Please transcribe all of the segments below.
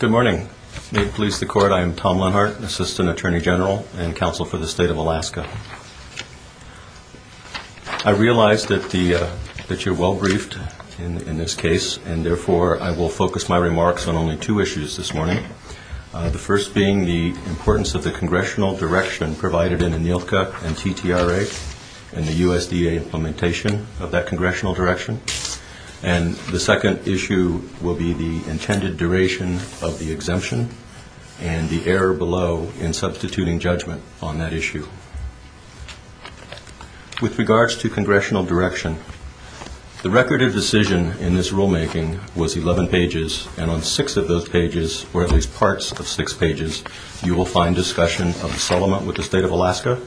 Good morning. May it please the Court, I am Tom Lenhart, Assistant Attorney General and Counsel for the State of Alaska. I realize that you're well briefed in this case, and therefore I will focus my remarks on only two issues this morning, the first being the importance of the Congressional direction provided in ANILCA and TTRA and the USDA implementation of that Congressional direction, and the second issue will be the intended duration of the exemption and the error below in substituting judgment on that issue. With regards to Congressional direction, the record of decision in this rulemaking was 11 pages, and on six of those pages, or at least parts of six pages, you will find discussion of the settlement with the State of Alaska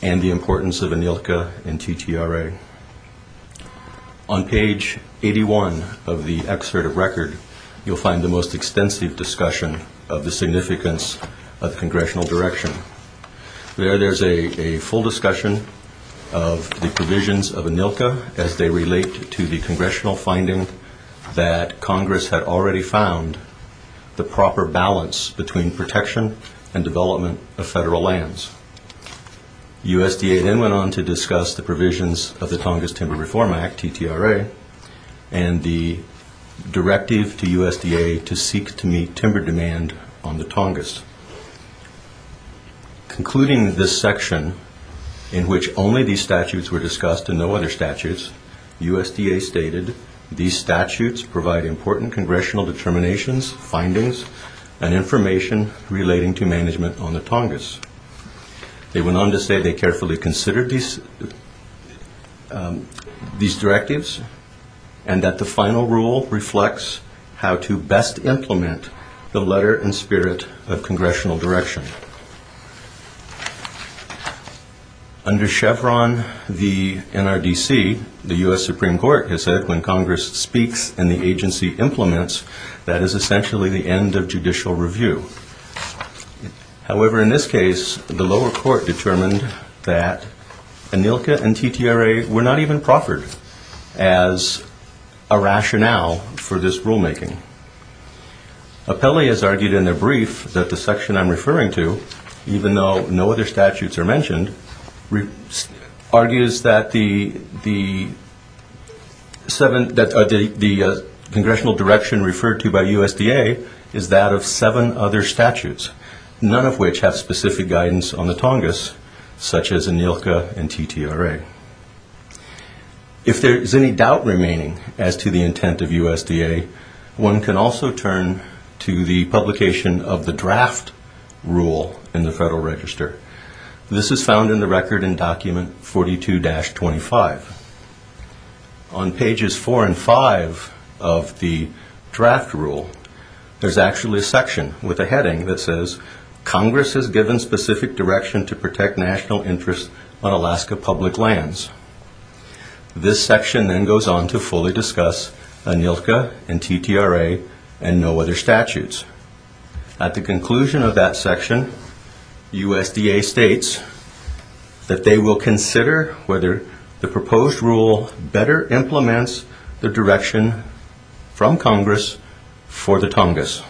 and the importance of ANILCA and TTRA. On page 81 of the excerpt of record, you'll find the most extensive discussion of the significance of Congressional direction. There, there's a full discussion of the provisions of ANILCA as they relate to the Congressional finding that Congress had already found the proper balance between protection and development of federal lands. USDA then went on to discuss the provisions of the Tongass Timber Reform Act, TTRA, and the directive to USDA to seek to meet timber demand on the Tongass. Concluding this section in which only these statutes were discussed and no other statutes, USDA stated, these statutes provide important Congressional determinations, findings, and information relating to management on the Tongass. They went on to say they carefully considered these directives and that the final rule reflects how to best implement the letter and spirit of Congressional direction. Under Chevron, the NRDC, the U.S. Supreme Court has said when Congress speaks and the agency implements, that is essentially the end of judicial review. However, in this case, the lower court determined that ANILCA and TTRA were not even proffered as a rationale for this rulemaking. Apelli has argued in their brief that the section I'm referring to, even though no other statutes are mentioned, argues that the Congressional direction referred to by USDA is that of seven other statutes, none of which have specific guidance on the Tongass, such as ANILCA and TTRA. If there is any doubt remaining as to the intent of USDA, one can also turn to the publication of the draft rule in the Federal Register. This is found in the record in Document 42-25. On pages 4 and 5 of the draft rule, there's actually a section with a heading that says, Congress has given specific direction to protect national interests on Alaska public lands. This section then goes on to fully discuss ANILCA and TTRA and no other statutes. At the conclusion of that section, USDA states that they will consider whether the proposed rule better implements the direction from Congress for the Tongass.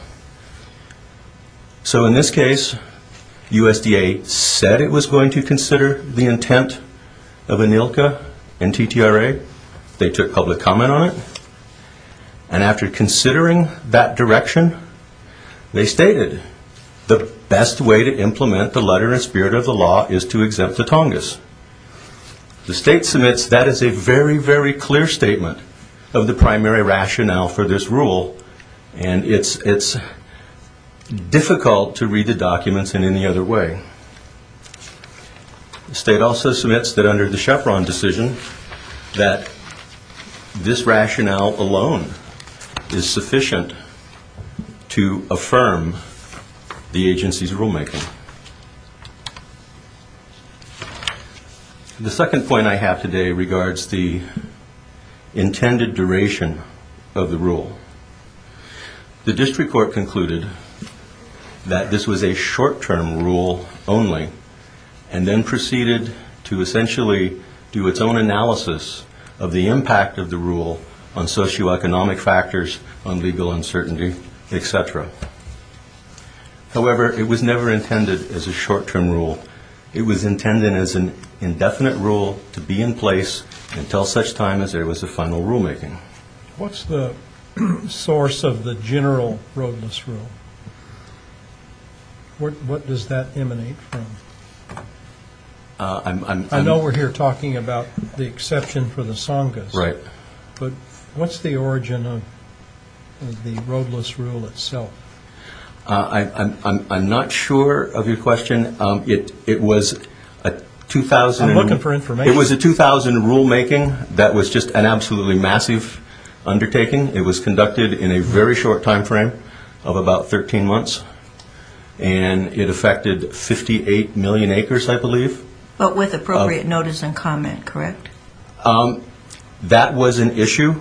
So in this case, USDA said it was going to consider the intent of ANILCA and TTRA. They took public comment on it. And after considering that direction, they stated the best way to implement the letter and spirit of the law is to exempt the Tongass. The state submits that as a very, very clear statement of the primary rationale for this rule. And it's difficult to read the documents in any other way. The state also submits that under the Chevron decision, that this rationale alone is sufficient to affirm the agency's rulemaking. The second point I have today regards the intended duration of the rule. The district court concluded that this was a short-term rule only and then proceeded to essentially do its own analysis of the impact of the rule on socioeconomic factors, on legal uncertainty, et cetera. However, it was never intended as a short-term rule. It was intended as an indefinite rule to be in place until such time as there was a final rulemaking. What's the source of the general roadless rule? What does that emanate from? I know we're here talking about the exception for the Tongass. Right. But what's the origin of the roadless rule itself? I'm not sure of your question. It was a 2000... I'm looking for information. It was a 2000 rulemaking that was just an absolutely massive undertaking. It was conducted in a very short timeframe of about 13 months. And it affected 58 million acres, I believe. But with appropriate notice and comment, correct? That was an issue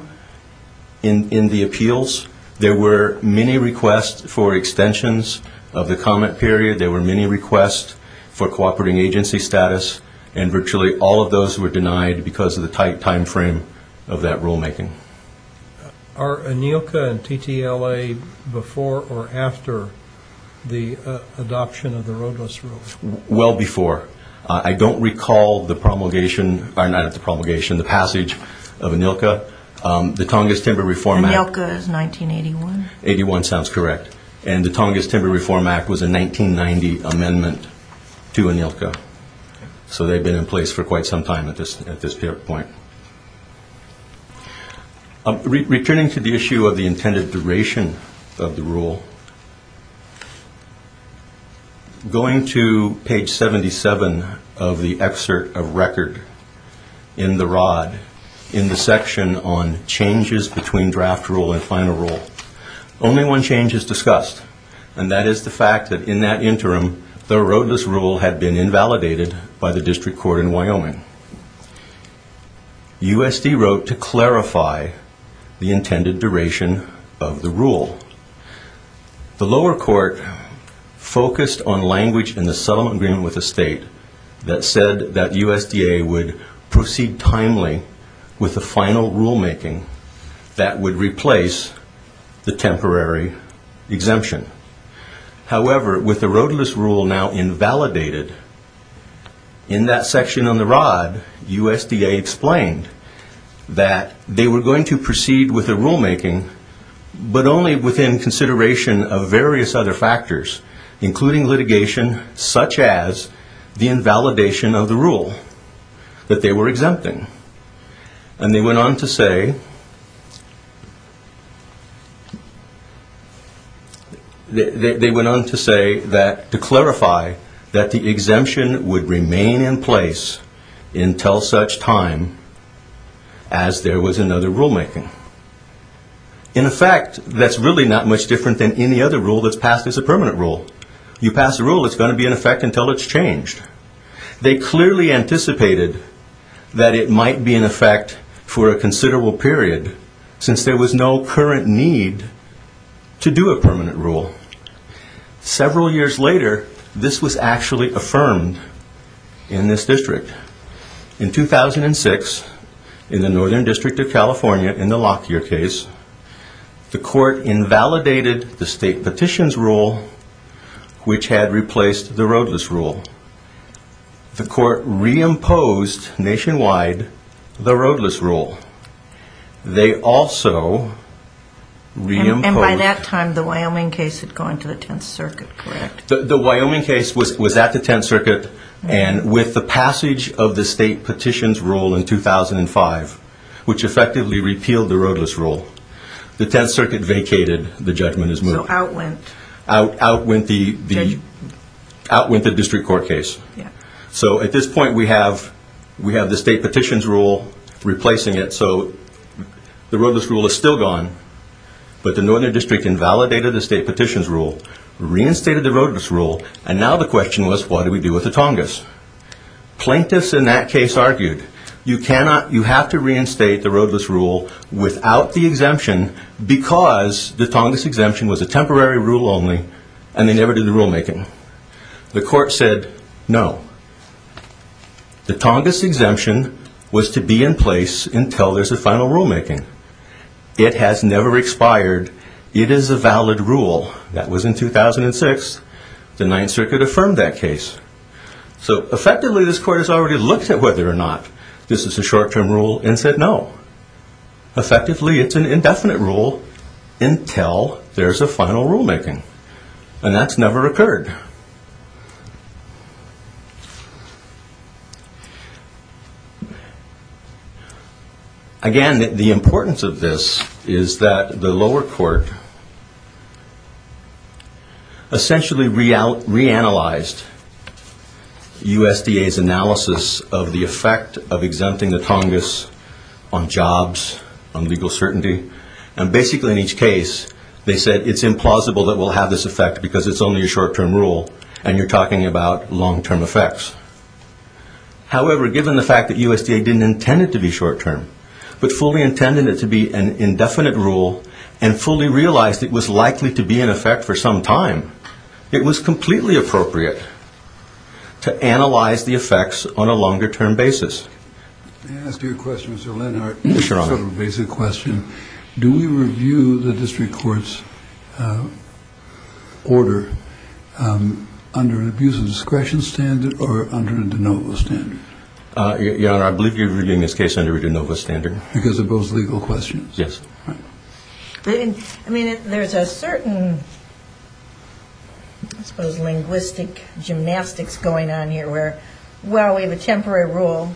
in the appeals. There were many requests for extensions of the comment period. There were many requests for cooperating agency status. And virtually all of those were denied because of the tight timeframe of that rulemaking. Are ANILCA and TTLA before or after the adoption of the roadless rule? Well before. I don't recall the promulgation, or not the promulgation, the passage of ANILCA. The Tongass Timber Reform Act. ANILCA is 1981. 1981 sounds correct. And the Tongass Timber Reform Act was a 1990 amendment to ANILCA. So they've been in place for quite some time at this point. Returning to the issue of the intended duration of the rule, going to page 77 of the excerpt of record in the rod, in the section on changes between draft rule and final rule, only one change is discussed. And that is the fact that in that interim, the roadless rule had been invalidated by the district court in Wyoming. USD wrote to clarify the intended duration of the rule. The lower court focused on language in the settlement agreement with the state that said that USDA would proceed timely with the final rulemaking that would replace the temporary exemption. However, with the roadless rule now invalidated, in that section on the rod, USDA explained that they were going to proceed with the rulemaking but only within consideration of various other factors, including litigation such as the invalidation of the rule that they were exempting. And they went on to say that to clarify that the exemption would remain in place until such time as there was another rulemaking. In effect, that's really not much different than any other rule that's passed as a permanent rule. You pass a rule, it's going to be in effect until it's changed. They clearly anticipated that it might be in effect for a considerable period since there was no current need to do a permanent rule. Several years later, this was actually affirmed in this district. In 2006, in the Northern District of California, in the Lockyer case, the court invalidated the state petitions rule, which had replaced the roadless rule. The court reimposed nationwide the roadless rule. They also reimposed... And by that time, the Wyoming case had gone to the Tenth Circuit, correct? The Wyoming case was at the Tenth Circuit, and with the passage of the state petitions rule in 2005, which effectively repealed the roadless rule, the Tenth Circuit vacated the judgment as moved. So out went... Out went the district court case. So at this point, we have the state petitions rule replacing it. So the roadless rule is still gone, but the Northern District invalidated the state petitions rule, reinstated the roadless rule, and now the question was, what do we do with the Tongass? Plaintiffs in that case argued, you have to reinstate the roadless rule without the exemption because the Tongass exemption was a temporary rule only, and they never did the rulemaking. The court said no. The Tongass exemption was to be in place until there's a final rulemaking. It has never expired. It is a valid rule. That was in 2006. The Ninth Circuit affirmed that case. So effectively, this court has already looked at whether or not this is a short-term rule and said no. Effectively, it's an indefinite rule until there's a final rulemaking, and that's never occurred. Again, the importance of this is that the lower court essentially reanalyzed USDA's analysis of the effect of exempting the Tongass on jobs, on legal certainty, and basically in each case they said it's implausible that we'll have this effect because it's only a short-term rule and you're talking about long-term effects. However, given the fact that USDA didn't intend it to be short-term but fully intended it to be an indefinite rule and fully realized it was likely to be in effect for some time, it was completely appropriate to analyze the effects on a longer-term basis. May I ask you a question, Mr. Lenhart? Yes, Your Honor. Sort of a basic question. Do we review the district court's order under an abuse of discretion standard or under a de novo standard? Your Honor, I believe you're reviewing this case under a de novo standard. Because of those legal questions? Yes. I mean, there's a certain, I suppose, linguistic gymnastics going on here where, well, we have a temporary rule,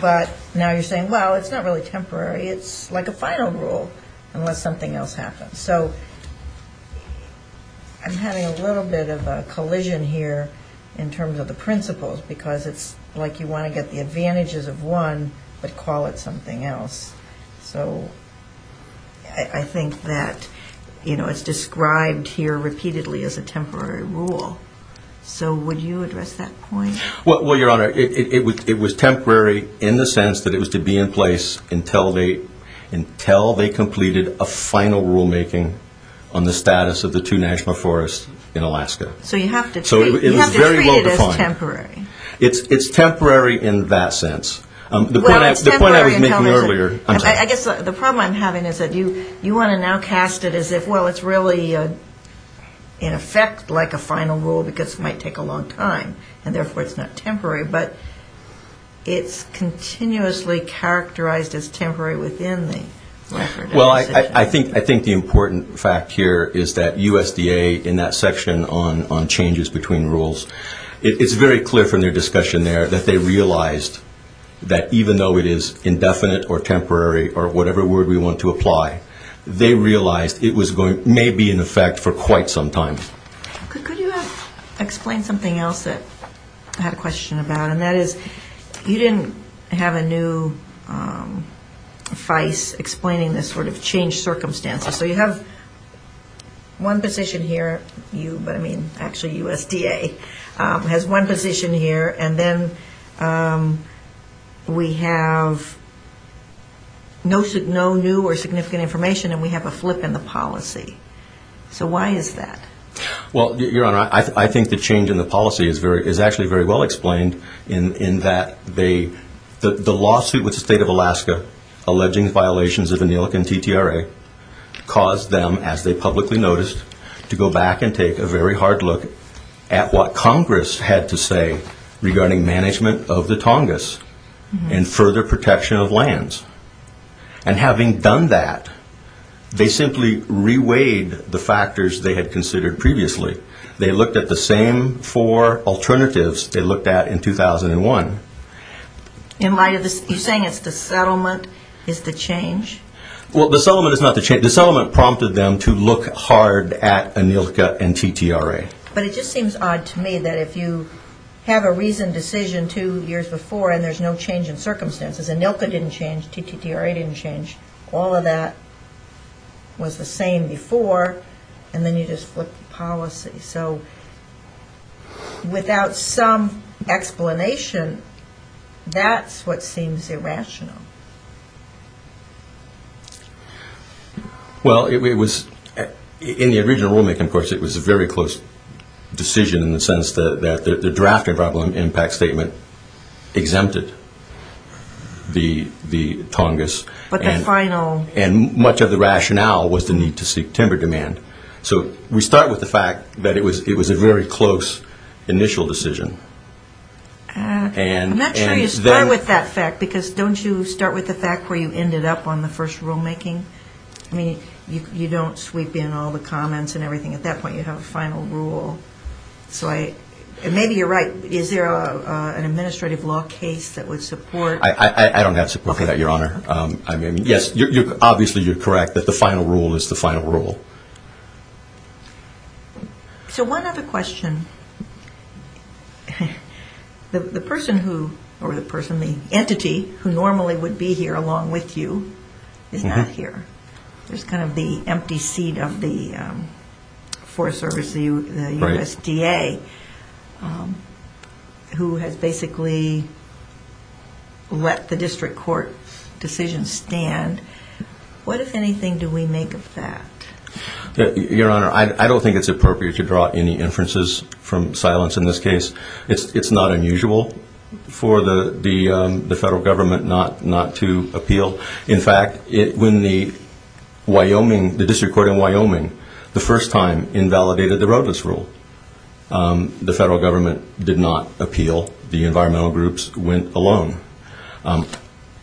but now you're saying, well, it's not really temporary, it's like a final rule unless something else happens. So I'm having a little bit of a collision here in terms of the principles because it's like you want to get the advantages of one but call it something else. So I think that it's described here repeatedly as a temporary rule. So would you address that point? Well, Your Honor, it was temporary in the sense that it was to be in place until they completed a final rulemaking on the status of the two National Forests in Alaska. So you have to treat it as temporary. It's temporary in that sense. The point I was making earlier. I guess the problem I'm having is that you want to now cast it as if, well, in effect like a final rule because it might take a long time, and therefore it's not temporary. But it's continuously characterized as temporary within the record of the decision. Well, I think the important fact here is that USDA, in that section on changes between rules, it's very clear from their discussion there that they realized that even though it is indefinite or temporary or whatever word we want to apply, they realized it may be in effect for quite some time. Could you explain something else that I had a question about, and that is you didn't have a new vice explaining this sort of change circumstances. So you have one position here, you, but I mean actually USDA, has one position here, and then we have no new or significant information, and we have a flip in the policy. So why is that? Well, Your Honor, I think the change in the policy is actually very well explained in that they, the lawsuit with the State of Alaska alleging violations of ANILAC and TTRA caused them, as they publicly noticed, to go back and take a very hard look at what Congress had to say regarding management of the Tongass and further protection of lands. And having done that, they simply reweighed the factors they had considered previously. They looked at the same four alternatives they looked at in 2001. You're saying it's the settlement is the change? Well, the settlement is not the change. The settlement prompted them to look hard at ANILCA and TTRA. But it just seems odd to me that if you have a reasoned decision two years before and there's no change in circumstances, ANILCA didn't change, TTRA didn't change, all of that was the same before, and then you just flip the policy. So without some explanation, that's what seems irrational. Well, it was, in the original rulemaking, of course, it was a very close decision in the sense that the draft environmental impact statement exempted the Tongass. But the final... And much of the rationale was the need to seek timber demand. So we start with the fact that it was a very close initial decision. I'm not sure you start with that fact, because don't you start with the fact where you ended up on the first rulemaking? I mean, you don't sweep in all the comments and everything. At that point, you have a final rule. So maybe you're right. Is there an administrative law case that would support... I don't have support for that, Your Honor. Yes, obviously you're correct that the final rule is the final rule. So one other question. The entity who normally would be here along with you is not here. There's kind of the empty seat of the Forest Service, the USDA, who has basically let the district court decision stand. What, if anything, do we make of that? Your Honor, I don't think it's appropriate to draw any inferences from silence in this case. It's not unusual for the federal government not to appeal. In fact, when the district court in Wyoming, the first time, invalidated the roadless rule. The federal government did not appeal. The environmental groups went alone.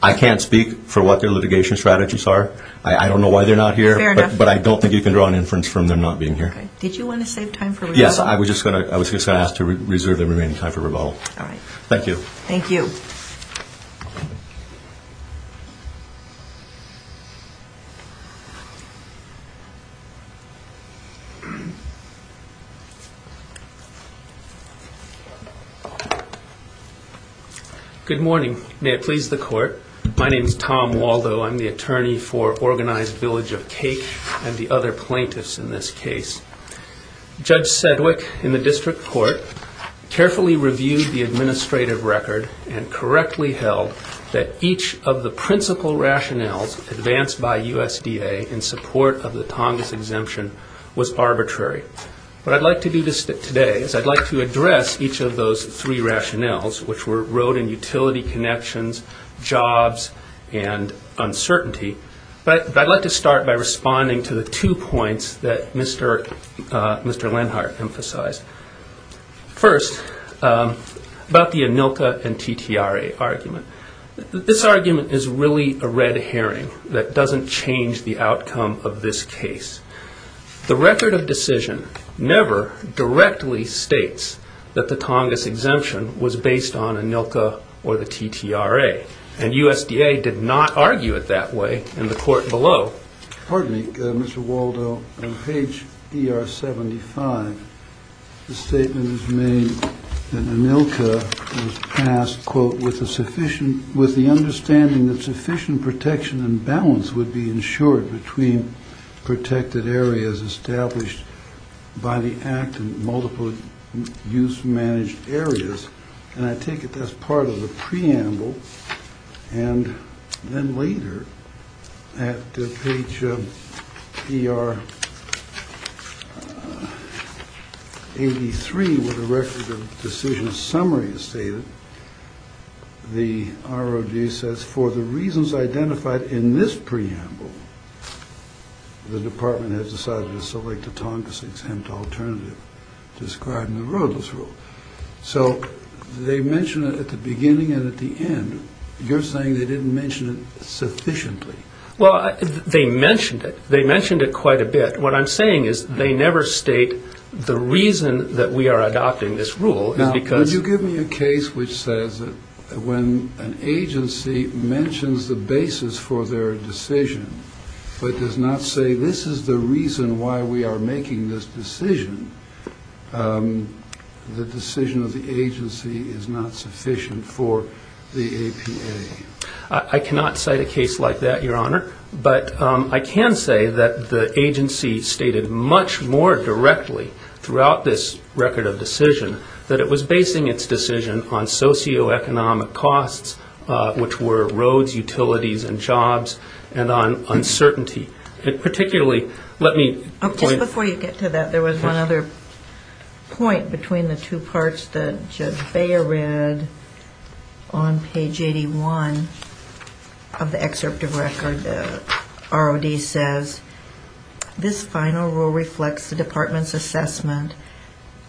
I can't speak for what their litigation strategies are. I don't know why they're not here. Fair enough. But I don't think you can draw an inference from them not being here. Did you want to save time for rebuttal? Yes, I was just going to ask to reserve the remaining time for rebuttal. Thank you. Thank you. Thank you. Good morning. May it please the court. My name is Tom Waldo. I'm the attorney for Organized Village of Cake and the other plaintiffs in this case. Judge Sedgwick in the district court carefully reviewed the administrative record and correctly held that each of the principal rationales advanced by USDA in support of the Tongass exemption was arbitrary. What I'd like to do today is I'd like to address each of those three rationales, which were road and utility connections, jobs, and uncertainty. But I'd like to start by responding to the two points that Mr. Lenhart emphasized. First, about the ANILTA and TTRA argument. This argument is really a red herring that doesn't change the outcome of this case. The record of decision never directly states that the Tongass exemption was based on ANILTA or the TTRA, and USDA did not argue it that way in the court below. Pardon me, Mr. Waldo. On page ER75, the statement is made that ANILTA was passed, quote, with the understanding that sufficient protection and balance would be ensured between protected areas established by the Act and multiple use-managed areas. And I take it that's part of the preamble. And then later, at page ER83, where the record of decision summary is stated, the ROD says, for the reasons identified in this preamble, the Department has decided to select a Tongass-exempt alternative described in the RODLESS rule. So they mention it at the beginning and at the end. You're saying they didn't mention it sufficiently. Well, they mentioned it. They mentioned it quite a bit. What I'm saying is they never state the reason that we are adopting this rule is because of the RODLESS rule. But it does not say this is the reason why we are making this decision. The decision of the agency is not sufficient for the APA. I cannot cite a case like that, Your Honor. But I can say that the agency stated much more directly throughout this record of decision that it was basing its decision on socioeconomic costs, which were roads, utilities, and jobs, and on uncertainty. And particularly, let me point to that. Just before you get to that, there was one other point between the two parts that Judge Beyer read on page 81 of the excerpt of record. The ROD says, this final rule reflects the Department's assessment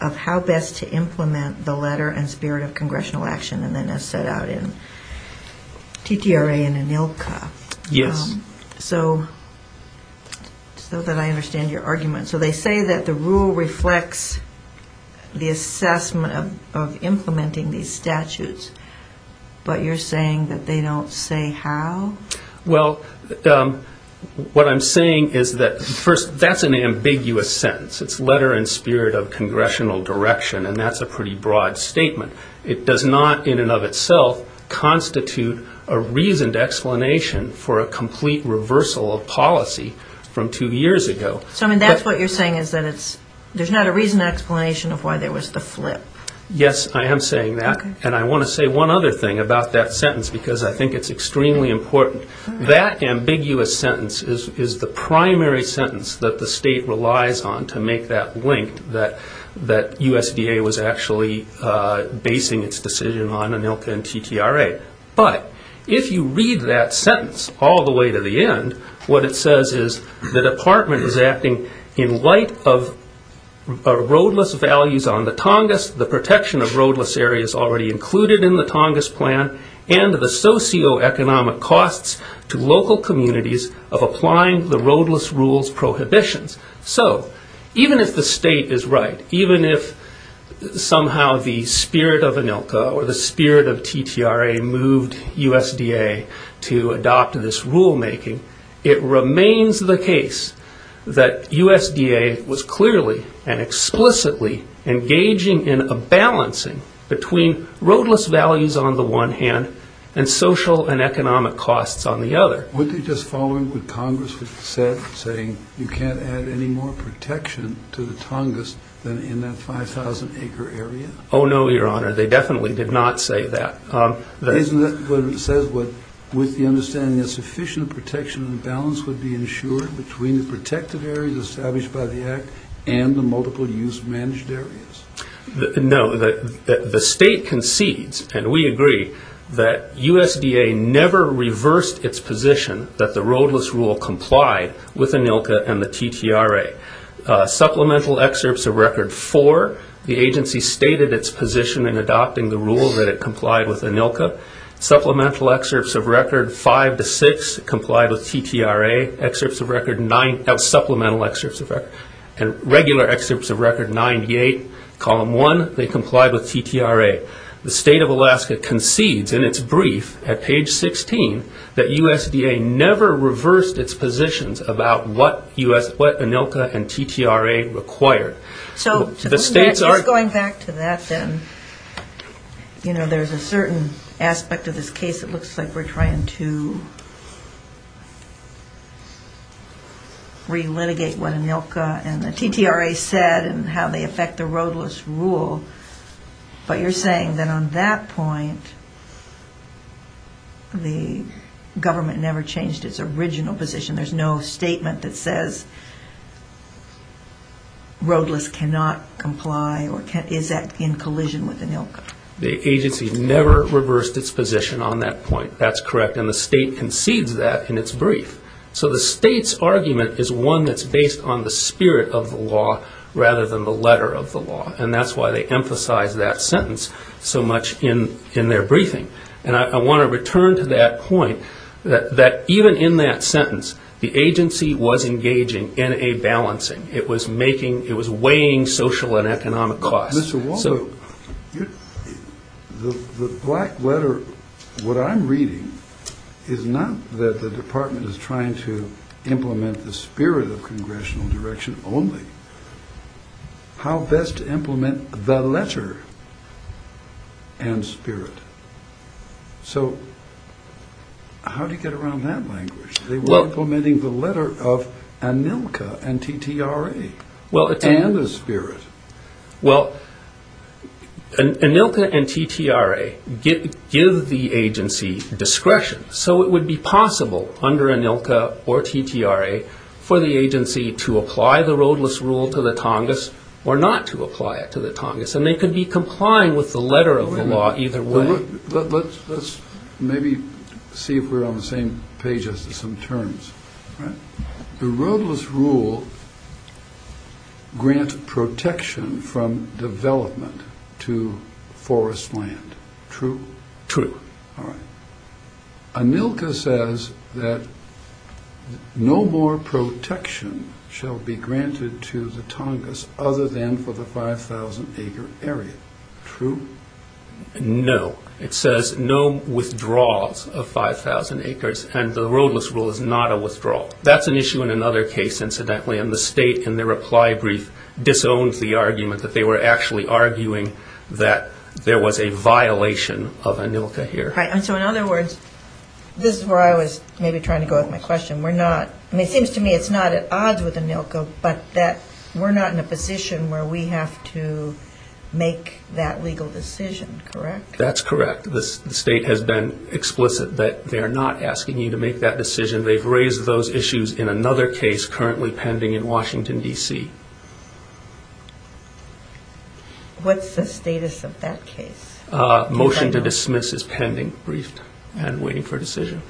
of how best to implement the letter and spirit of congressional action, and then as set out in TTRA and ANILCA. Yes. So that I understand your argument. So they say that the rule reflects the assessment of implementing these statutes, but you're saying that they don't say how? Well, what I'm saying is that, first, that's an ambiguous sentence. It's letter and spirit of congressional direction, and that's a pretty broad statement. It does not in and of itself constitute a reasoned explanation for a complete reversal of policy from two years ago. So, I mean, that's what you're saying is that there's not a reasoned explanation of why there was the flip. Yes, I am saying that. And I want to say one other thing about that sentence because I think it's extremely important. That ambiguous sentence is the primary sentence that the state relies on to make that link, that USDA was actually basing its decision on ANILCA and TTRA. But if you read that sentence all the way to the end, what it says is, the Department is acting in light of roadless values on the Tongass, the protection of roadless areas already included in the Tongass Plan, and the socioeconomic costs to local communities of applying the roadless rules prohibitions. So, even if the state is right, even if somehow the spirit of ANILCA or the spirit of TTRA moved USDA to adopt this rulemaking, it remains the case that USDA was clearly and explicitly engaging in a balancing between roadless values on the one hand and social and economic costs on the other. Would they just follow what Congress said, saying, you can't add any more protection to the Tongass than in that 5,000 acre area? Oh, no, Your Honor. They definitely did not say that. Isn't that what it says, with the understanding that sufficient protection and balance would be ensured between the protected areas established by the Act and the multiple use managed areas? No. The state concedes, and we agree, that USDA never reversed its position that the roadless rule complied with ANILCA and the TTRA. Supplemental excerpts of Record 4, the agency stated its position in adopting the rule that it complied with ANILCA. Supplemental excerpts of Record 5 to 6 complied with TTRA. Supplemental excerpts of Record and regular excerpts of Record 98, Column 1, they complied with TTRA. The state of Alaska concedes in its brief at page 16 that USDA never reversed its positions about what ANILCA and TTRA required. Just going back to that, then, you know, there's a certain aspect of this case that looks like we're trying to relitigate what ANILCA and the TTRA said and how they affect the roadless rule, but you're saying that on that point, the government never changed its original position. There's no statement that says roadless cannot comply, or is that in collision with ANILCA? The agency never reversed its position on that point. That's correct, and the state concedes that in its brief. So the state's argument is one that's based on the spirit of the law rather than the letter of the law, and that's why they emphasize that sentence so much in their briefing. And I want to return to that point, that even in that sentence, the agency was engaging in a balancing. It was weighing social and economic costs. Mr. Waldo, the black letter, what I'm reading, is not that the department is trying to implement the spirit of congressional direction only. How best to implement the letter and spirit? So how do you get around that language? They were implementing the letter of ANILCA and TTRA and the spirit. Well, ANILCA and TTRA give the agency discretion, so it would be possible under ANILCA or TTRA for the agency to apply the roadless rule to the Tongass or not to apply it to the Tongass, and they could be complying with the letter of the law either way. Let's maybe see if we're on the same page as some terms. The roadless rule grants protection from development to forest land, true? True. All right. ANILCA says that no more protection shall be granted to the Tongass other than for the 5,000-acre area, true? No. It says no withdrawals of 5,000 acres, and the roadless rule is not a withdrawal. That's an issue in another case, incidentally, and the state in their reply brief disowned the argument that they were actually arguing that there was a violation of ANILCA here. All right. And so in other words, this is where I was maybe trying to go with my question. It seems to me it's not at odds with ANILCA, but that we're not in a position where we have to make that legal decision, correct? That's correct. The state has been explicit that they are not asking you to make that decision. They've raised those issues in another case currently pending in Washington, D.C. What's the status of that case? Motion to dismiss is pending, briefed, and waiting for a decision.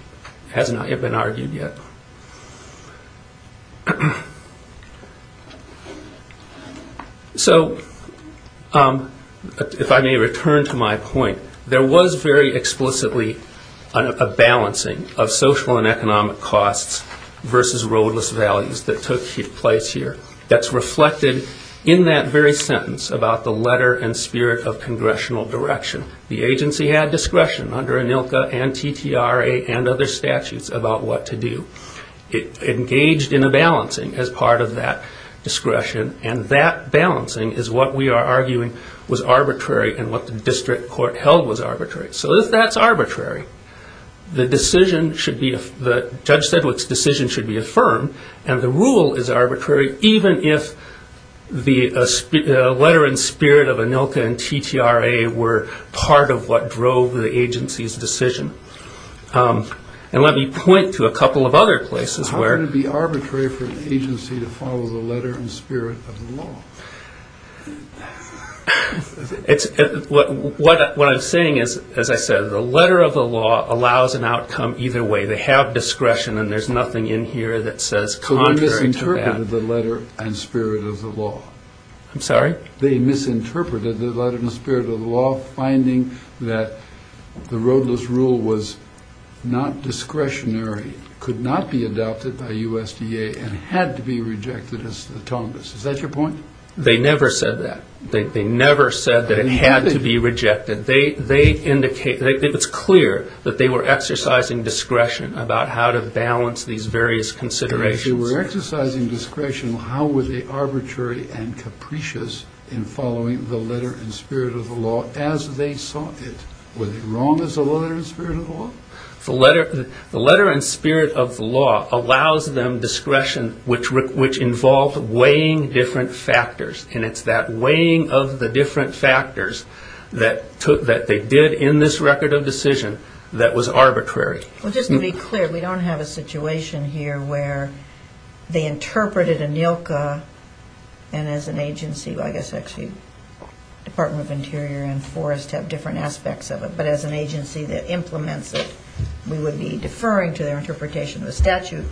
It has not yet been argued yet. So if I may return to my point, there was very explicitly a balancing of social and economic costs versus roadless values that took place here. That's reflected in that very sentence about the letter and spirit of congressional direction. The agency had discretion under ANILCA and TTRA and other statutes about what to do. It engaged in a balancing as part of that discretion, and that balancing is what we are arguing was arbitrary and what the district court held was arbitrary. So that's arbitrary. Judge Sedgwick's decision should be affirmed, and the rule is arbitrary even if the letter and spirit of ANILCA and TTRA were part of what drove the agency's decision. Let me point to a couple of other places where... How can it be arbitrary for an agency to follow the letter and spirit of the law? What I'm saying is, as I said, the letter of the law allows an outcome either way. They have discretion, and there's nothing in here that says contrary to that. So they misinterpreted the letter and spirit of the law. I'm sorry? They misinterpreted the letter and spirit of the law, finding that the roadless rule was not discretionary, could not be adopted by USDA, and had to be rejected as the Tongass. Is that your point? They never said that. They never said that it had to be rejected. It's clear that they were exercising discretion about how to balance these various considerations. If they were exercising discretion, how were they arbitrary and capricious in following the letter and spirit of the law as they saw it? Were they wrong as to the letter and spirit of the law? The letter and spirit of the law allows them discretion which involved weighing different factors, and it's that weighing of the different factors that they did in this record of decision that was arbitrary. Well, just to be clear, we don't have a situation here where they interpreted ANILCA and as an agency, I guess actually Department of Interior and Forest have different aspects of it, but as an agency that implements it, we would be deferring to their interpretation of the statute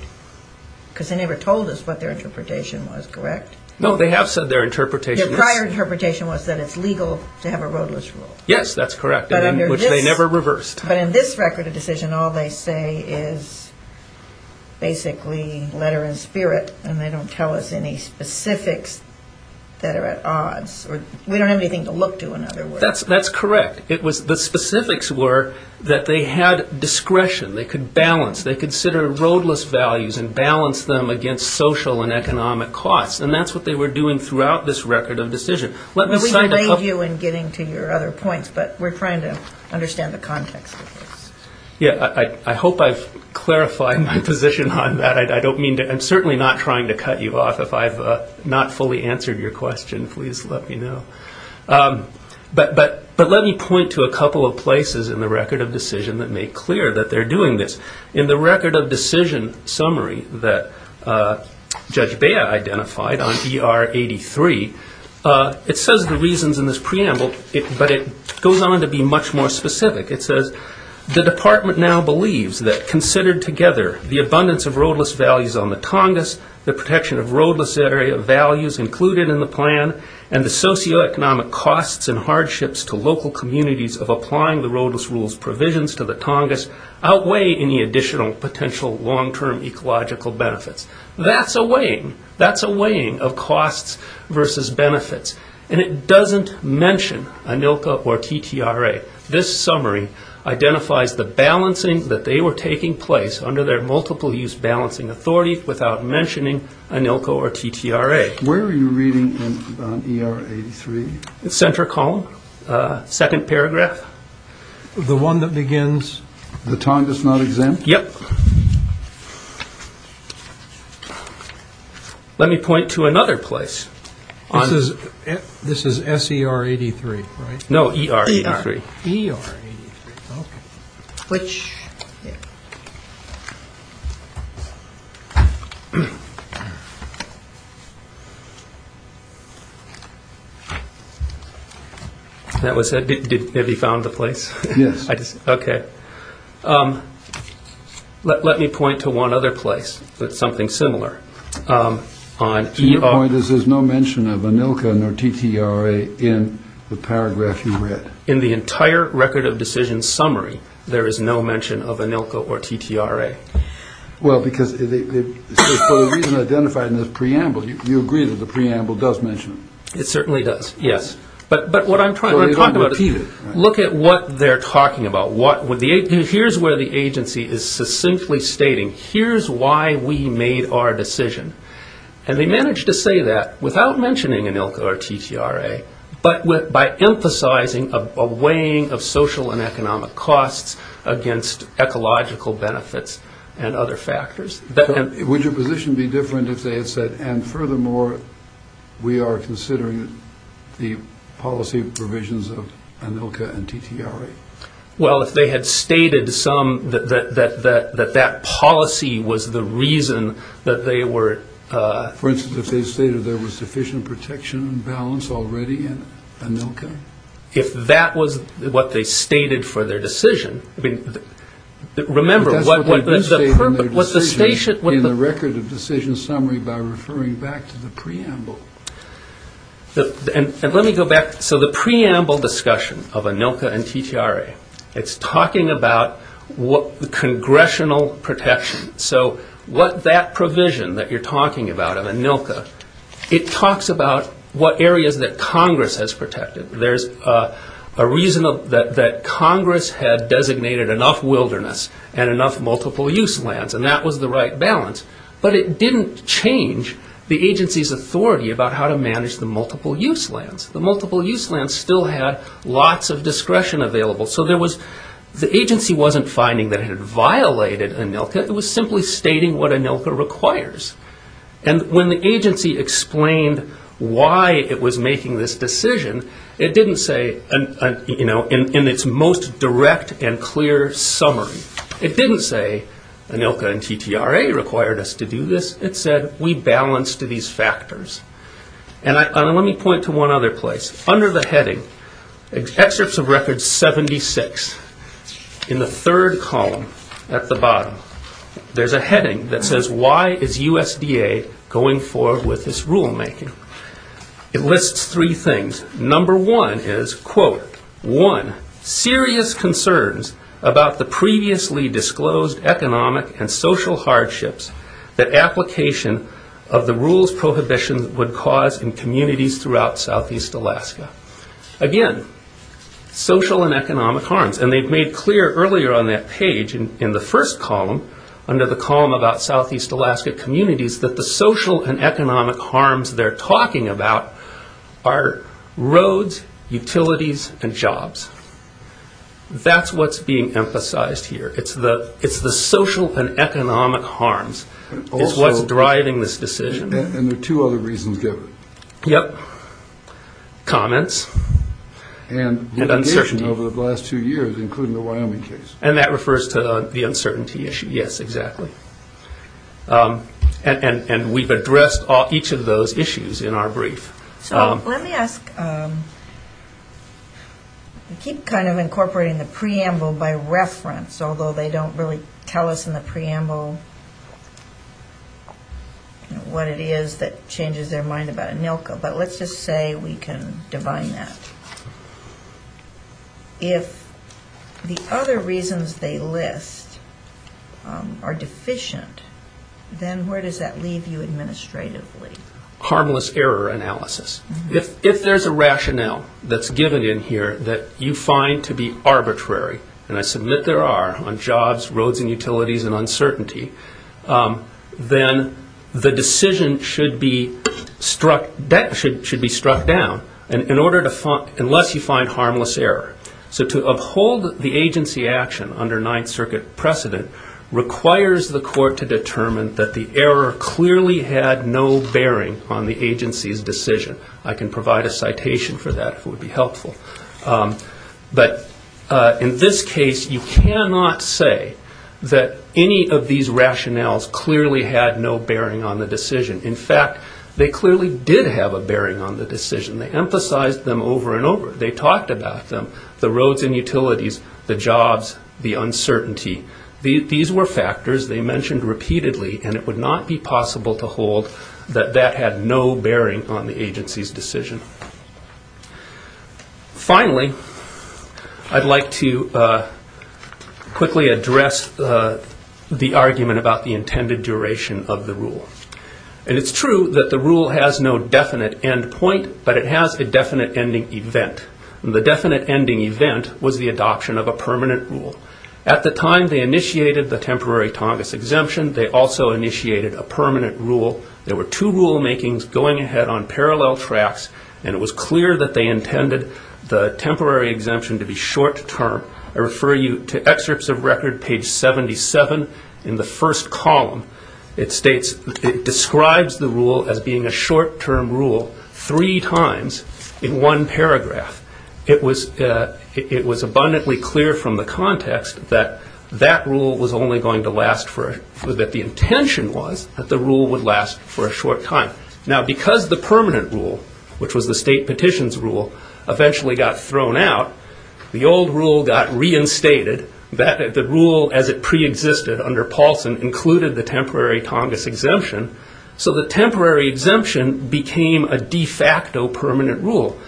because they never told us what their interpretation was, correct? No, they have said their interpretation is… Their prior interpretation was that it's legal to have a roadless rule. Yes, that's correct, which they never reversed. But in this record of decision, all they say is basically letter and spirit, and they don't tell us any specifics that are at odds. We don't have anything to look to, in other words. That's correct. The specifics were that they had discretion. They could balance. They could consider roadless values and balance them against social and economic costs, and that's what they were doing throughout this record of decision. Well, we've made you in getting to your other points, but we're trying to understand the context of this. Yes, I hope I've clarified my position on that. I'm certainly not trying to cut you off. If I've not fully answered your question, please let me know. But let me point to a couple of places in the record of decision that make clear that they're doing this. In the record of decision summary that Judge Bea identified on ER 83, it says the reasons in this preamble, but it goes on to be much more specific. It says, The department now believes that considered together, the abundance of roadless values on the Tongass, the protection of roadless area values included in the plan, and the socioeconomic costs and hardships to local communities of applying the roadless rules provisions to the Tongass outweigh any additional potential long-term ecological benefits. That's a weighing. That's a weighing of costs versus benefits. And it doesn't mention ANILCA or TTRA. This summary identifies the balancing that they were taking place under their multiple-use balancing authority without mentioning ANILCA or TTRA. Where are you reading in ER 83? The center column, second paragraph. The one that begins, the Tongass not exempt? Yep. Let me point to another place. This is SER 83, right? No, ER 83. ER 83, okay. Which? That was it? Have you found the place? Yes. Okay. Let me point to one other place that's something similar on ER. Your point is there's no mention of ANILCA nor TTRA in the paragraph you read. In the entire record of decision summary, there is no mention of ANILCA or TTRA. Well, because for the reason identified in this preamble, you agree that the preamble does mention it. It certainly does, yes. But what I'm trying to talk about is look at what they're talking about. Here's where the agency is succinctly stating, here's why we made our decision. And they managed to say that without mentioning ANILCA or TTRA but by emphasizing a weighing of social and economic costs against ecological benefits and other factors. Would your position be different if they had said, and furthermore, we are considering the policy provisions of ANILCA and TTRA? Well, if they had stated some, that that policy was the reason that they were For instance, if they stated there was sufficient protection and balance already in ANILCA? If that was what they stated for their decision, I mean, remember what That's what they stated in their decision in the record of decision summary by referring back to the preamble. And let me go back. So the preamble discussion of ANILCA and TTRA, it's talking about congressional protection. So what that provision that you're talking about of ANILCA, it talks about what areas that Congress has protected. There's a reason that Congress had designated enough wilderness and enough multiple use lands. And that was the right balance. But it didn't change the agency's authority about how to manage the multiple use lands. The multiple use lands still had lots of discretion available. So the agency wasn't finding that it had violated ANILCA. It was simply stating what ANILCA requires. And when the agency explained why it was making this decision, it didn't say in its most direct and clear summary. It didn't say ANILCA and TTRA required us to do this. It said we balanced these factors. And let me point to one other place. Under the heading, excerpts of record 76, in the third column at the bottom, there's a heading that says why is USDA going forward with this rulemaking. It lists three things. Number one is, quote, one, serious concerns about the previously disclosed economic and social hardships that application of the rules prohibition would cause in communities throughout Southeast Alaska. Again, social and economic harms. And they've made clear earlier on that page in the first column, under the column about Southeast Alaska communities, that the social and economic harms they're talking about are roads, utilities, and jobs. That's what's being emphasized here. It's the social and economic harms is what's driving this decision. And there are two other reasons given. Yep. Comments and uncertainty. And the condition over the last two years, including the Wyoming case. And that refers to the uncertainty issue. Yes, exactly. And we've addressed each of those issues in our brief. So let me ask, you keep kind of incorporating the preamble by reference, although they don't really tell us in the preamble what it is that changes their mind about ANILCA. But let's just say we can divine that. If the other reasons they list are deficient, then where does that leave you administratively? Harmless error analysis. If there's a rationale that's given in here that you find to be arbitrary, and I submit there are on jobs, roads, and utilities, and uncertainty, then the decision should be struck down, unless you find harmless error. So to uphold the agency action under Ninth Circuit precedent requires the court to determine that the error clearly had no bearing on the agency's decision. I can provide a citation for that, if it would be helpful. But in this case, you cannot say that any of these rationales clearly had no bearing on the decision. In fact, they clearly did have a bearing on the decision. They emphasized them over and over. They talked about them, the roads and utilities, the jobs, the uncertainty. These were factors they mentioned repeatedly, and it would not be possible to hold that that had no bearing on the agency's decision. Finally, I'd like to quickly address the argument about the intended duration of the rule. It's true that the rule has no definite end point, but it has a definite ending event. The definite ending event was the adoption of a permanent rule. At the time they initiated the temporary Tongass exemption, they also initiated a permanent rule. There were two rulemakings going ahead on parallel tracks, and it was clear that they intended the temporary exemption to be short-term. I refer you to excerpts of record, page 77, in the first column. It states it describes the rule as being a short-term rule three times in one paragraph. It was abundantly clear from the context that that rule was only going to last for, that the intention was that the rule would last for a short time. Now, because the permanent rule, which was the state petition's rule, eventually got thrown out, the old rule got reinstated. The rule as it preexisted under Paulson included the temporary Tongass exemption, so the temporary exemption became a de facto permanent rule.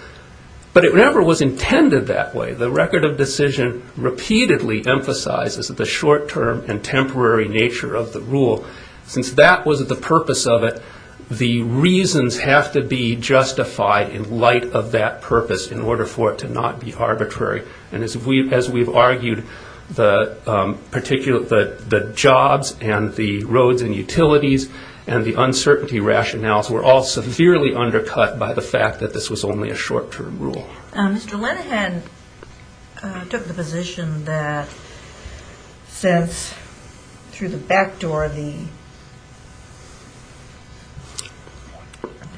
But it never was intended that way. The record of decision repeatedly emphasizes the short-term and temporary nature of the rule. Since that was the purpose of it, the reasons have to be justified in light of that purpose in order for it to not be arbitrary. As we've argued, the jobs and the roads and utilities and the uncertainty rationales were all severely undercut by the fact that this was only a short-term rule. Mr. Linehan took the position that since through the backdoor the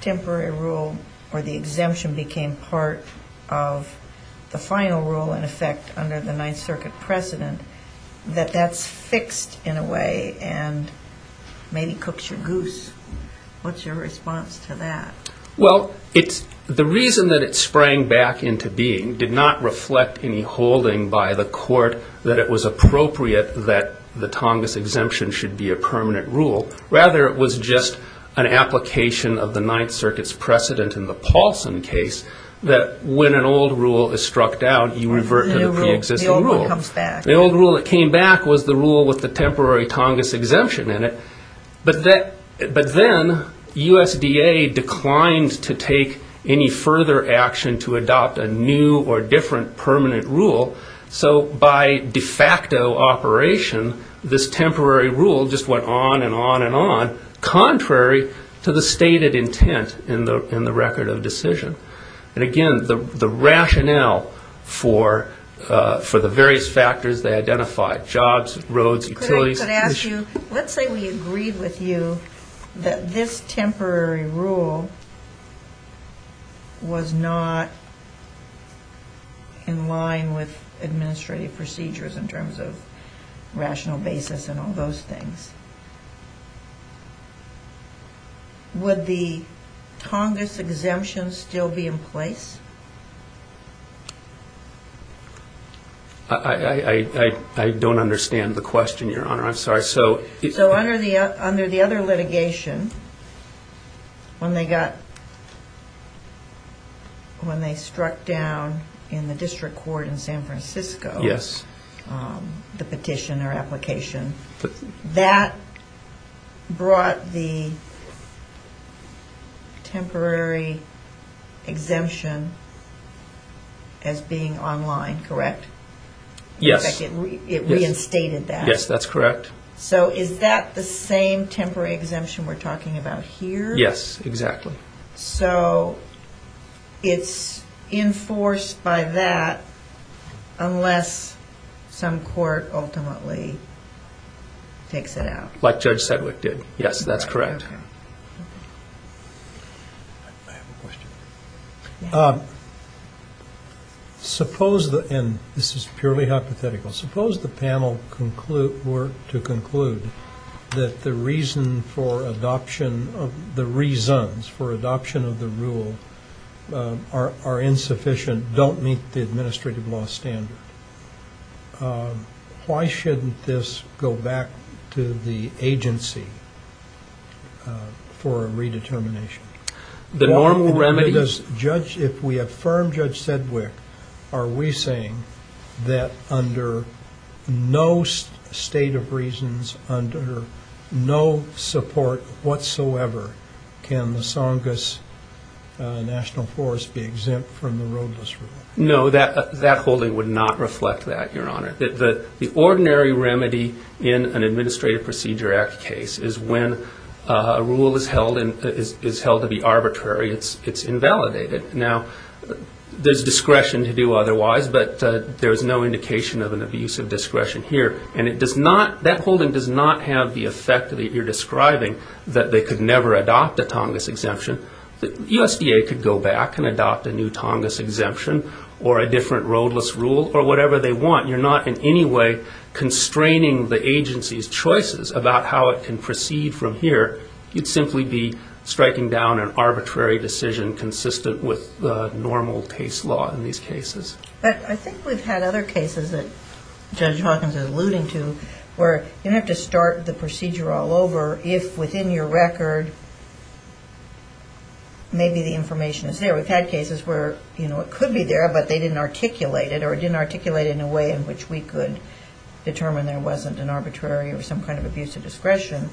temporary rule or the exemption became part of the final rule, in effect, under the Ninth Circuit precedent, that that's fixed in a way and maybe cooks your goose. What's your response to that? Well, the reason that it sprang back into being did not reflect any holding by the court that it was appropriate that the Tongass exemption should be a permanent rule. Rather, it was just an application of the Ninth Circuit's precedent in the Paulson case that when an old rule is struck down, you revert to the preexisting rule. The old one comes back. The old rule that came back was the rule with the temporary Tongass exemption in it. But then USDA declined to take any further action to adopt a new or different permanent rule. So by de facto operation, this temporary rule just went on and on and on, contrary to the stated intent in the record of decision. And again, the rationale for the various factors they identified, jobs, roads, utilities. If I could ask you, let's say we agreed with you that this temporary rule was not in line with administrative procedures in terms of rational basis and all those things. Would the Tongass exemption still be in place? I don't understand the question, Your Honor. I'm sorry. So under the other litigation, when they struck down in the district court in San Francisco, the petition or application, that brought the temporary exemption as being online, correct? Yes. In fact, it reinstated that. Yes, that's correct. So is that the same temporary exemption we're talking about here? Yes, exactly. So it's enforced by that unless some court ultimately takes it out. Like Judge Sedgwick did. Yes, that's correct. Okay. Suppose, and this is purely hypothetical, suppose the panel were to conclude that the reasons for adoption of the rule are insufficient, don't meet the administrative law standard. Why shouldn't this go back to the agency for a redetermination? If we affirm Judge Sedgwick, are we saying that under no state of reasons, under no support whatsoever, can the Tongass National Forest be exempt from the roadless rule? No, that holding would not reflect that, Your Honor. The ordinary remedy in an Administrative Procedure Act case is when a rule is held to be arbitrary, it's invalidated. Now, there's discretion to do otherwise, but there's no indication of an abuse of discretion here, and that holding does not have the effect that you're describing, that they could never adopt a Tongass exemption. The USDA could go back and adopt a new Tongass exemption or a different roadless rule or whatever they want. You're not in any way constraining the agency's choices about how it can proceed from here. You'd simply be striking down an arbitrary decision consistent with the normal case law in these cases. But I think we've had other cases that Judge Hawkins is alluding to where you don't have to start the procedure all over if within your record maybe the information is there. We've had cases where it could be there, but they didn't articulate it, or it didn't articulate it in a way in which we could determine there wasn't an arbitrary or some kind of abuse of discretion,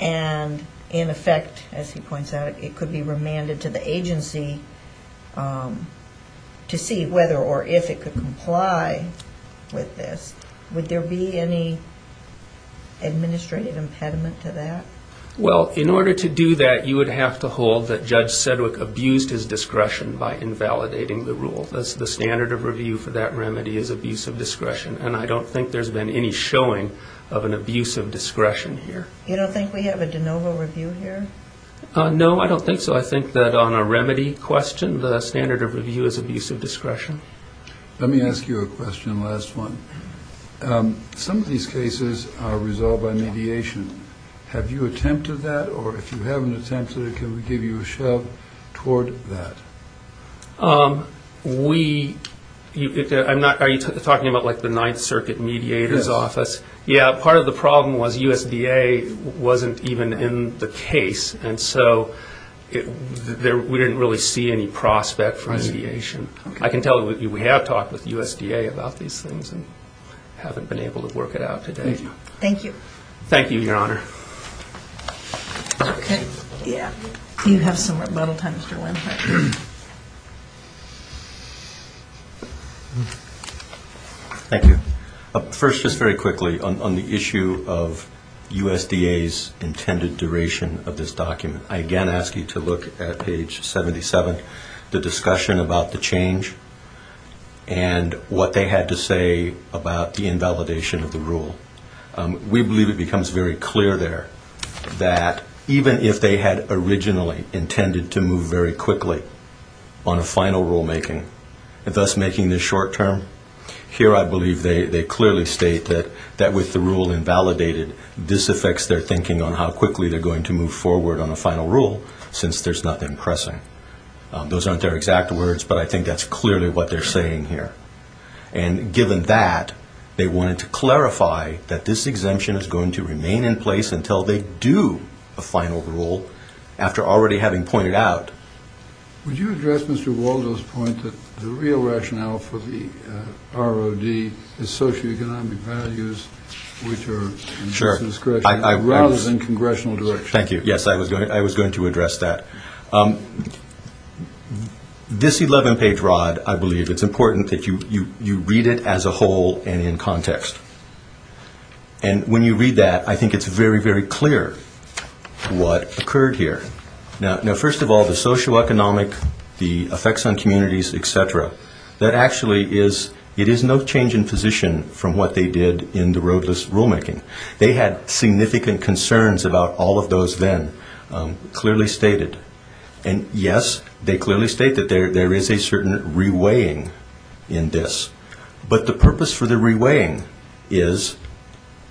and in effect, as he points out, it could be remanded to the agency to see whether or if it could comply with this. Would there be any administrative impediment to that? Well, in order to do that, you would have to hold that Judge Sedgwick abused his discretion by invalidating the rule. The standard of review for that remedy is abuse of discretion, and I don't think there's been any showing of an abuse of discretion here. You don't think we have a de novo review here? No, I don't think so. I think that on a remedy question, the standard of review is abuse of discretion. Let me ask you a question, last one. Some of these cases are resolved by mediation. Have you attempted that? Or if you haven't attempted it, can we give you a shove toward that? Are you talking about like the Ninth Circuit Mediator's Office? Yes. Yeah, part of the problem was USDA wasn't even in the case, and so we didn't really see any prospect for mediation. I can tell you we have talked with USDA about these things and haven't been able to work it out today. Thank you. Thank you, Your Honor. Okay, yeah. You have some rebuttal time, Mr. Winthrop. Thank you. First, just very quickly, on the issue of USDA's intended duration of this document, I again ask you to look at page 77, the discussion about the change and what they had to say about the invalidation of the rule. We believe it becomes very clear there that even if they had originally intended to move very quickly on a final rulemaking, thus making this short term, here I believe they clearly state that with the rule invalidated, this affects their thinking on how quickly they're going to move forward on a final rule, since there's nothing pressing. Those aren't their exact words, but I think that's clearly what they're saying here. And given that, they wanted to clarify that this exemption is going to remain in place until they do a final rule after already having pointed out. Would you address Mr. Waldo's point that the real rationale for the ROD is socioeconomic values, which are, Mr. Winthrop, rather than congressional direction? Thank you. Yes, I was going to address that. This 11-page ROD, I believe, it's important that you read it as a whole and in context. And when you read that, I think it's very, very clear what occurred here. Now, first of all, the socioeconomic, the effects on communities, et cetera, that actually is no change in position from what they did in the roadless rulemaking. They had significant concerns about all of those then, clearly stated. And, yes, they clearly state that there is a certain reweighing in this. But the purpose for the reweighing is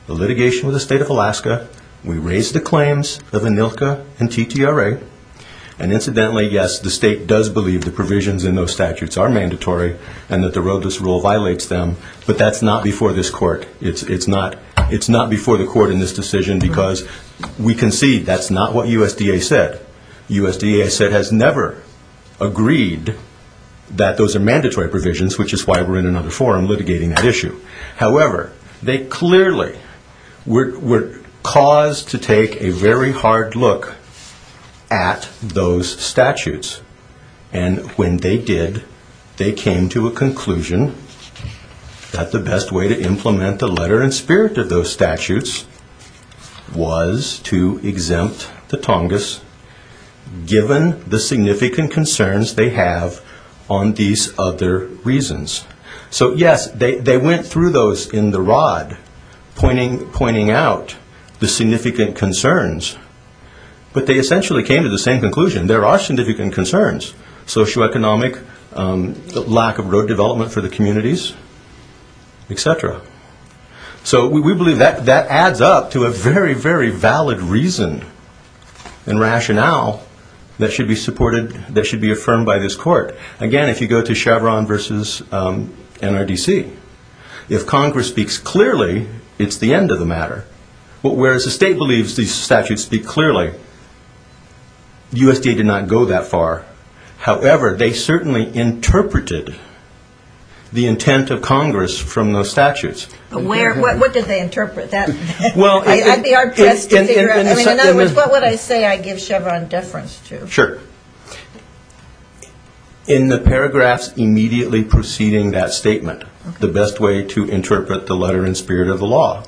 the litigation with the state of Alaska. We raised the claims of ANILCA and TTRA. And, incidentally, yes, the state does believe the provisions in those statutes are mandatory and that the roadless rule violates them, but that's not before this court. It's not before the court in this decision because we concede that's not what USDA said. USDA has never agreed that those are mandatory provisions, which is why we're in another forum litigating that issue. However, they clearly were caused to take a very hard look at those statutes. And when they did, they came to a conclusion that the best way to implement the letter and spirit of those statutes was to exempt the Tongass given the significant concerns they have on these other reasons. So, yes, they went through those in the rod, pointing out the significant concerns, but they essentially came to the same conclusion. There are significant concerns, socioeconomic, lack of road development for the communities, etc. So we believe that adds up to a very, very valid reason and rationale that should be supported, that should be affirmed by this court. Again, if you go to Chevron versus NRDC, if Congress speaks clearly, it's the end of the matter. Whereas the state believes these statutes speak clearly, USDA did not go that far. However, they certainly interpreted the intent of Congress from those statutes. What did they interpret? I'd be hard-pressed to figure out. In other words, what would I say I give Chevron deference to? Sure. In the paragraphs immediately preceding that statement, the best way to interpret the letter and spirit of the law,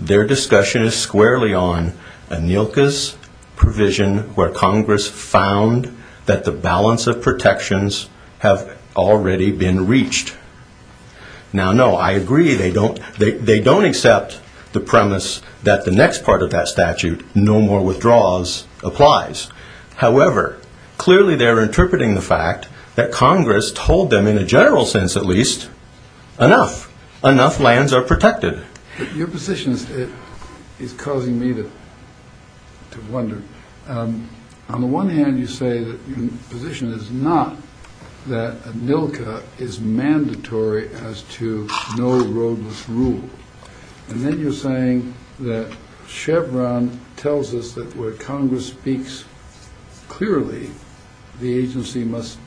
their discussion is squarely on ANILCA's provision where Congress found that the balance of protections have already been reached. Now, no, I agree they don't accept the premise that the next part of that statute, no more withdraws, applies. However, clearly they're interpreting the fact that Congress told them, in a general sense at least, enough. Enough lands are protected. Your position is causing me to wonder. On the one hand, you say that your position is not that ANILCA is mandatory as to no roadless rule. And then you're saying that Chevron tells us that where Congress speaks clearly, the agency must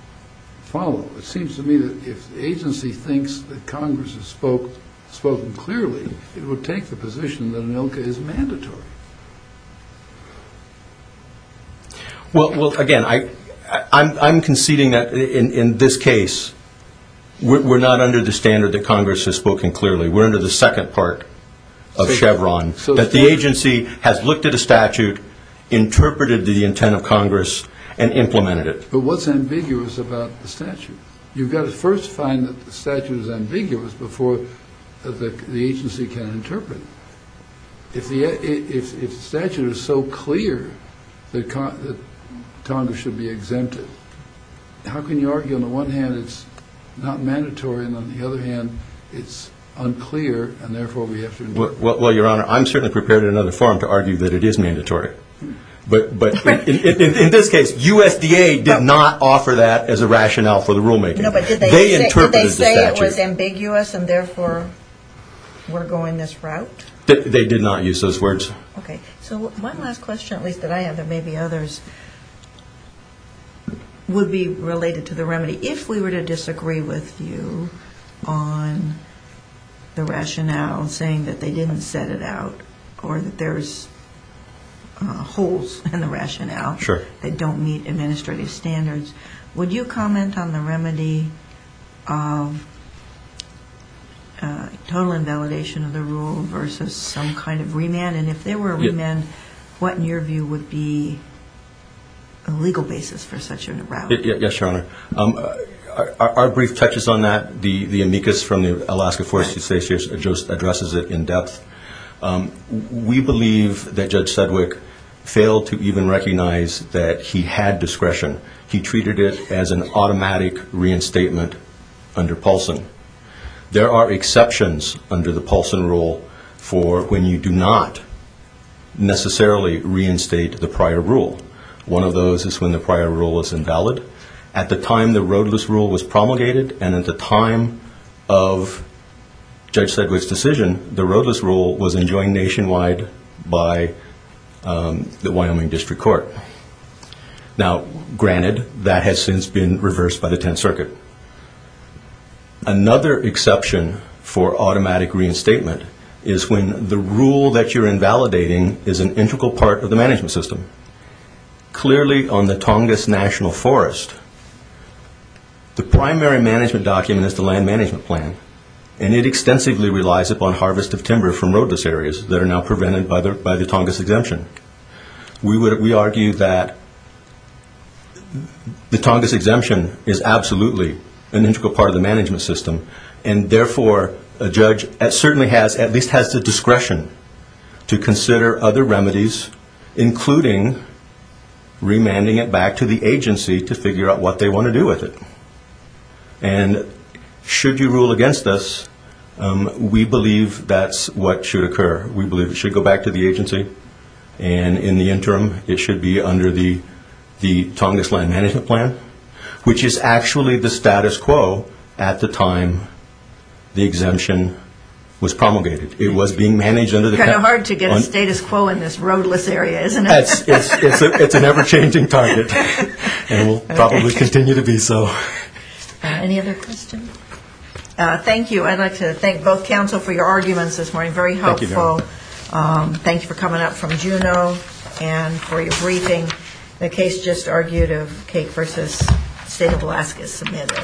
follow. It seems to me that if the agency thinks that Congress has spoken clearly, it would take the position that ANILCA is mandatory. Well, again, I'm conceding that in this case we're not under the standard that Congress has spoken clearly. We're under the second part of Chevron, that the agency has looked at a statute, interpreted the intent of Congress, and implemented it. But what's ambiguous about the statute? You've got to first find that the statute is ambiguous before the agency can interpret it. If the statute is so clear that Congress should be exempted, how can you argue on the one hand it's not mandatory and on the other hand it's unclear and therefore we have to interpret it? Well, Your Honor, I'm certainly prepared in another forum to argue that it is mandatory. But in this case, USDA did not offer that as a rationale for the rulemaking. No, but did they say it was ambiguous and therefore we're going this route? They did not use those words. Okay, so one last question, at least that I have, there may be others, would be related to the remedy. If we were to disagree with you on the rationale saying that they didn't set it out or that there's holes in the rationale that don't meet administrative standards, would you comment on the remedy of total invalidation of the rule versus some kind of remand? And if there were a remand, what in your view would be a legal basis for such a route? Yes, Your Honor. Our brief touches on that. The amicus from the Alaska Forestry Statute just addresses it in depth. We believe that Judge Sedgwick failed to even recognize that he had discretion. He treated it as an automatic reinstatement under Paulson. There are exceptions under the Paulson rule for when you do not necessarily reinstate the prior rule. One of those is when the prior rule is invalid. At the time the roadless rule was promulgated and at the time of Judge Sedgwick's decision, the roadless rule was enjoined nationwide by the Wyoming District Court. Now, granted, that has since been reversed by the Tenth Circuit. Another exception for automatic reinstatement is when the rule that you're invalidating is an integral part of the management system. Clearly on the Tongass National Forest, the primary management document is the land management plan, and it extensively relies upon harvest of timber from roadless areas that are now prevented by the Tongass exemption. We argue that the Tongass exemption is absolutely an integral part of the management system, and therefore a judge certainly at least has the discretion to consider other remedies, including remanding it back to the agency to figure out what they want to do with it. And should you rule against us, we believe that's what should occur. We believe it should go back to the agency, and in the interim it should be under the Tongass land management plan, which is actually the status quo at the time the exemption was promulgated. It was being managed under the- Kind of hard to get a status quo in this roadless area, isn't it? It's an ever-changing target, and will probably continue to be so. Any other questions? I'd like to thank both counsel for your arguments this morning. Very helpful. Thank you for coming up from Juneau and for your briefing. The case just argued of Cake v. State of Alaska is submitted.